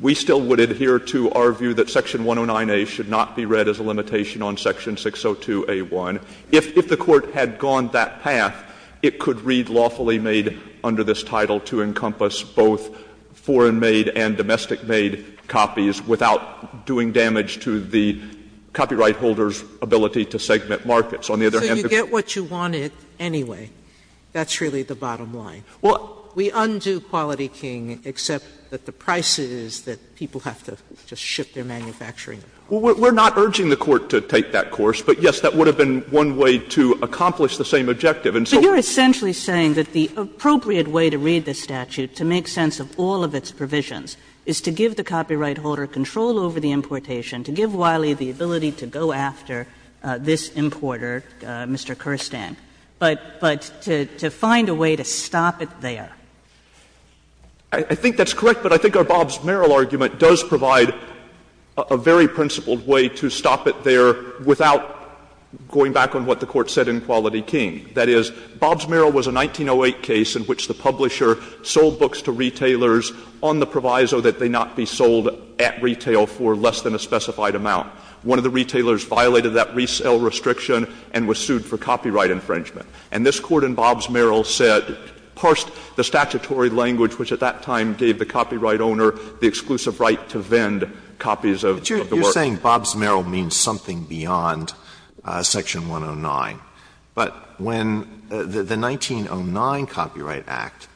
we still would adhere to our view that section 109A should not be read as a limitation on section 602A1. If the Court had gone that path, it could read lawfully made under this title to encompass both foreign-made and domestic-made copies without doing damage to the copyright holder's ability to segment markets. On the other hand, if you get what you wanted anyway, that's really the bottom line. We undo Quality King, except that the price is that people have to just ship their manufacturing. Well, we're not urging the Court to take that course, but, yes, that would have been one way to accomplish the same objective. And so we're essentially saying that the appropriate way to read the statute to make sense of all of its provisions is to give the copyright holder control over the importation, to give Wiley the ability to go after this importer, Mr. Kerstan, but to find a way to stop it there. I think that's correct, but I think our Bobbs-Merrill argument does provide a very principled way to stop it there without going back on what the Court said in Quality King. That is, Bobbs-Merrill was a 1908 case in which the publisher sold books to retailers on the proviso that they not be sold at retail for less than a specified amount. One of the retailers violated that resale restriction and was sued for copyright infringement. And this Court in Bobbs-Merrill said, parsed the statutory language which at that time gave the copyright owner the exclusive right to vend copies of the work. Alitoso, you're saying Bobbs-Merrill means something beyond section 109. But when the 1909 Copyright Act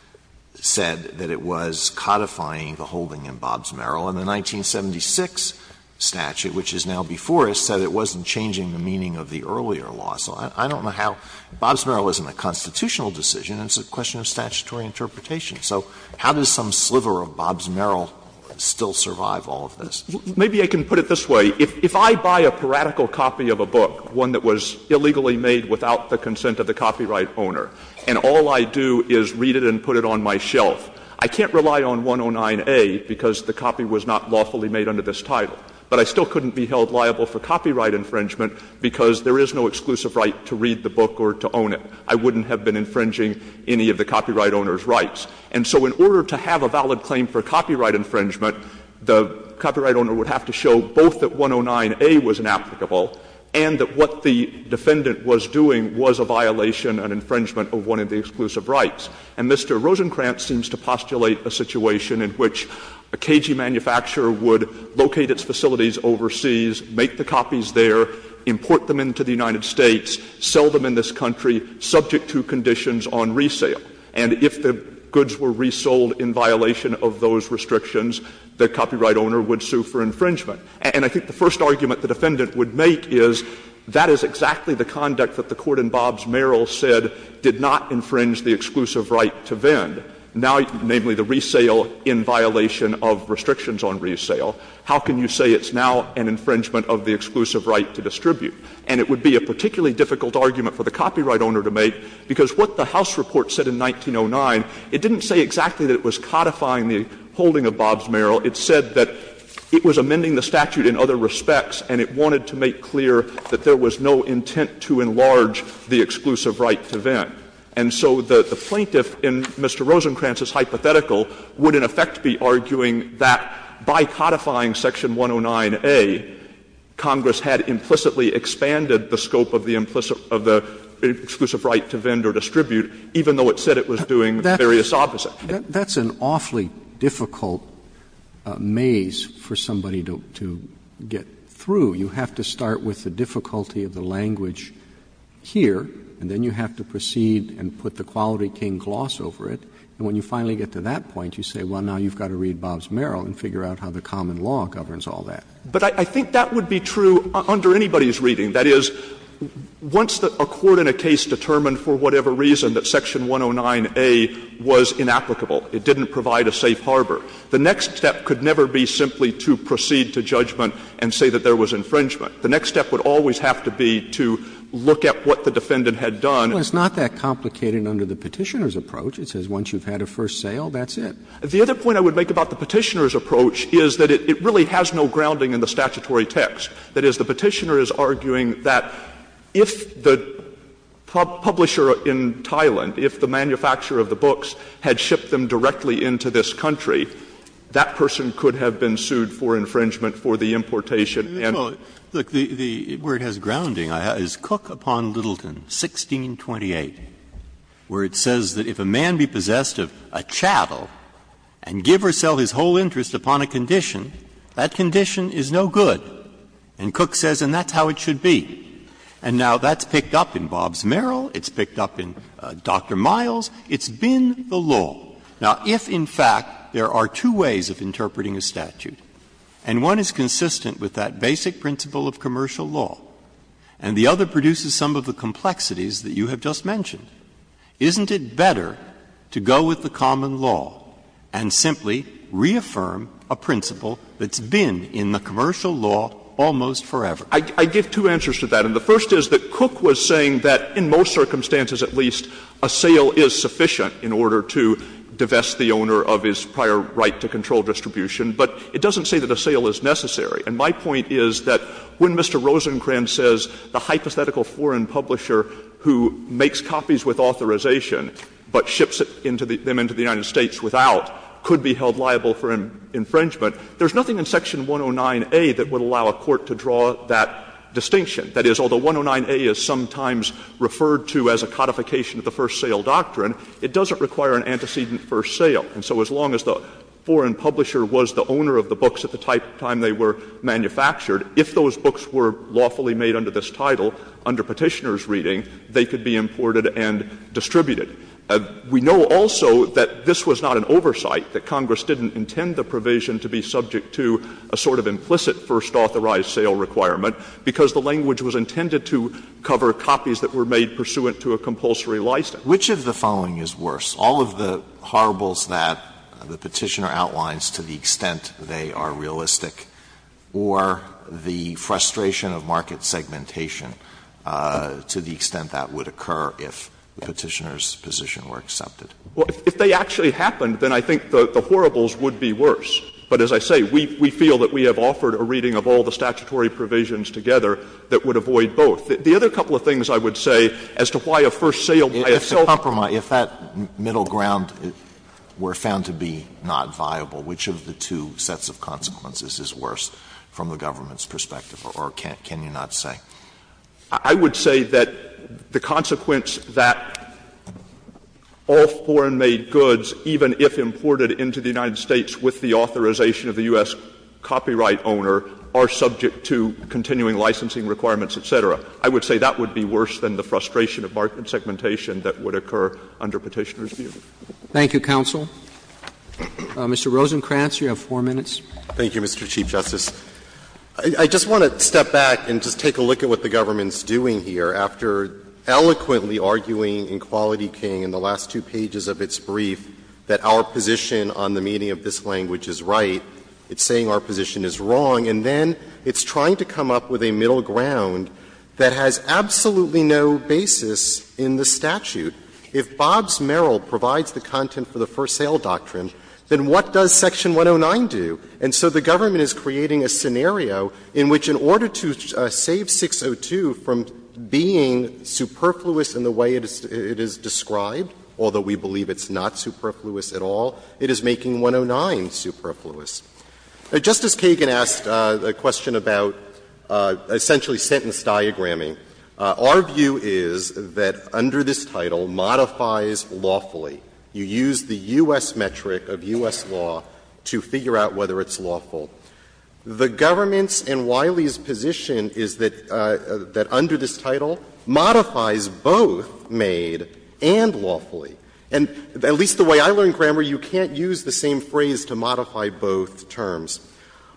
said that it was codifying the holding in Bobbs-Merrill and the 1976 statute, which is now before us, said it wasn't changing the meaning of the earlier law. So I don't know how — Bobbs-Merrill isn't a constitutional decision. It's a question of statutory interpretation. So how does some sliver of Bobbs-Merrill still survive all of this? Maybe I can put it this way. If I buy a paradical copy of a book, one that was illegally made without the consent of the copyright owner, and all I do is read it and put it on my shelf, I can't rely on 109A because the copy was not lawfully made under this title. But I still couldn't be held liable for copyright infringement because there is no exclusive right to read the book or to own it. I wouldn't have been infringing any of the copyright owner's rights. And so in order to have a valid claim for copyright infringement, the copyright owner would have to show both that 109A was inapplicable and that what the defendant was doing was a violation, an infringement of one of the exclusive rights. And Mr. Rosenkranz seems to postulate a situation in which a KG manufacturer would locate its facilities overseas, make the copies there, import them into the United States, sell them in this country subject to conditions on resale. And if the goods were resold in violation of those restrictions, the copyright owner would sue for infringement. And I think the first argument the defendant would make is that is exactly the conduct that the Court in Bobbs-Merrill said did not infringe the exclusive right to vend, namely the resale in violation of restrictions on resale. How can you say it's now an infringement of the exclusive right to distribute? And it would be a particularly difficult argument for the copyright owner to make because what the House report said in 1909, it didn't say exactly that it was codifying the holding of Bobbs-Merrill. It said that it was amending the statute in other respects, and it wanted to make clear that there was no intent to enlarge the exclusive right to vend. And so the plaintiff in Mr. Rosenkranz's hypothetical would in effect be arguing that by codifying section 109A, Congress had implicitly expanded the scope of the implicit of the exclusive right to vend or distribute, even though it said it was doing various opposite. Roberts. Roberts. That's an awfully difficult maze for somebody to get through. You have to start with the difficulty of the language here, and then you have to proceed and put the Quality King gloss over it. And when you finally get to that point, you say, well, now you've got to read Bobbs-Merrill and figure out how the common law governs all that. But I think that would be true under anybody's reading. That is, once a court in a case determined for whatever reason that section 109A was inapplicable, it didn't provide a safe harbor, the next step could never be simply to proceed to judgment and say that there was infringement. The next step would always have to be to look at what the defendant had done. Roberts. Well, it's not that complicated under the Petitioner's approach. It says once you've had a first sale, that's it. The other point I would make about the Petitioner's approach is that it really has no grounding in the statutory text. That is, the Petitioner is arguing that if the publisher in Thailand, if the manufacturer of the books had shipped them directly into this country, that person could have been sued for infringement for the importation and the importation of the books. Breyer. Look, where it has grounding is Cook v. Littleton, 1628, where it says that if a man be possessed of a chattel and give herself his whole interest upon a condition, that condition is no good. And Cook says, and that's how it should be. And now that's picked up in Bobbs-Merrill. It's picked up in Dr. Miles. It's been the law. Now, if in fact there are two ways of interpreting a statute, and one is consistent with that basic principle of commercial law, and the other produces some of the complexities that you have just mentioned, isn't it better to go with the common law and simply reaffirm a principle that's been in the commercial law almost forever? I give two answers to that. And the first is that Cook was saying that in most circumstances, at least, a sale is sufficient in order to divest the owner of his prior right to control distribution, but it doesn't say that a sale is necessary. And my point is that when Mr. Rosencrantz says the hypothetical foreign publisher who makes copies with authorization but ships them into the United States without could be held liable for infringement, there's nothing in Section 109A that would allow a court to draw that distinction. That is, although 109A is sometimes referred to as a codification of the first sale doctrine, it doesn't require an antecedent first sale. And so as long as the foreign publisher was the owner of the books at the time they were manufactured, if those books were lawfully made under this title, under Petitioner's reading, they could be imported and distributed. We know also that this was not an oversight, that Congress didn't intend the provision to be subject to a sort of implicit first authorized sale requirement, because the language was intended to cover copies that were made pursuant to a compulsory license. Alitoso, which of the following is worse, all of the horribles that the Petitioner outlines to the extent they are realistic, or the frustration of market segmentation to the extent that would occur if the Petitioner's position were accepted? Stewart. Well, if they actually happened, then I think the horribles would be worse. But as I say, we feel that we have offered a reading of all the statutory provisions together that would avoid both. The other couple of things I would say as to why a first sale by itself. Alitoso, if that middle ground were found to be not viable, which of the two sets of consequences is worse from the government's perspective, or can you not say? Stewart. I would say that the consequence that all foreign-made goods, even if imported into the United States with the authorization of the U.S. copyright owner, are subject to continuing licensing requirements, et cetera. I would say that would be worse than the frustration of market segmentation that would occur under Petitioner's view. Thank you, counsel. Mr. Rosenkranz, you have 4 minutes. Thank you, Mr. Chief Justice. I just want to step back and just take a look at what the government's doing here. After eloquently arguing in Quality King in the last two pages of its brief that our position on the meaning of this language is right, it's saying our position is wrong. And then it's trying to come up with a middle ground that has absolutely no basis in the statute. If Bob's Merrill provides the content for the first sale doctrine, then what does Section 109 do? And so the government is creating a scenario in which in order to save 602 from being superfluous in the way it is described, although we believe it's not superfluous at all, it is making 109 superfluous. Justice Kagan asked a question about essentially sentence diagramming. Our view is that under this title, modifies lawfully. You use the U.S. metric of U.S. law to figure out whether it's lawful. The government's and Wiley's position is that under this title, modifies both made and lawfully. And at least the way I learned grammar, you can't use the same phrase to modify both terms.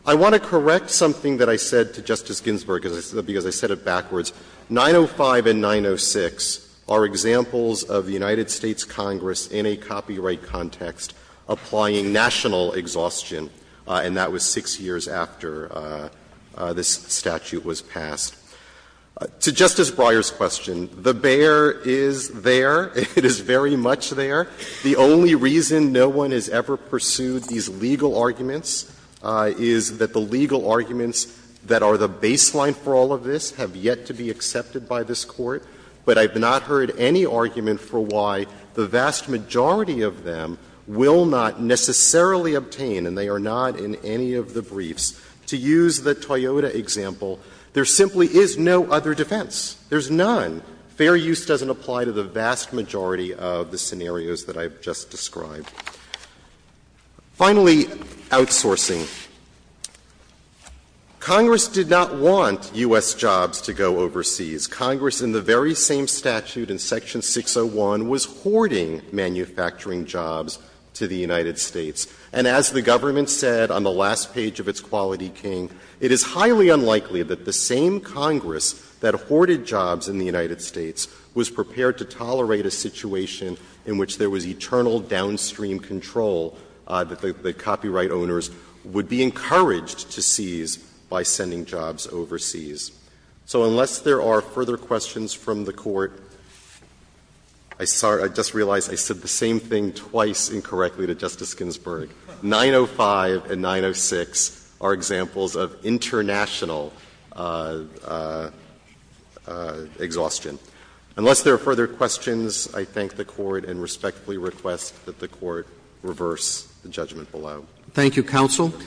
I want to correct something that I said to Justice Ginsburg, because I said it backwards. 905 and 906 are examples of the United States Congress in a copyright context applying national exhaustion, and that was 6 years after this statute was passed. To Justice Breyer's question, the bear is there. It is very much there. The only reason no one has ever pursued these legal arguments is that the legal arguments that are the baseline for all of this have yet to be accepted by this Court, but I have not heard any argument for why the vast majority of them will not necessarily obtain, and they are not in any of the briefs, to use the Toyota example, there simply is no other defense. There's none. Fair use doesn't apply to the vast majority of the scenarios that I have just described. Finally, outsourcing. Congress did not want U.S. jobs to go overseas. Congress in the very same statute in Section 601 was hoarding manufacturing jobs to the United States. And as the government said on the last page of its Quality King, it is highly unlikely that the same Congress that hoarded jobs in the United States was prepared to tolerate a situation in which there was eternal downstream control that the copyright owners would be encouraged to seize by sending jobs overseas. So unless there are further questions from the Court, I just realized I said the same thing twice incorrectly to Justice Ginsburg. 905 and 906 are examples of international exhaustion. Unless there are further questions, I thank the Court and respectfully request that the Court reverse the judgment below. Roberts.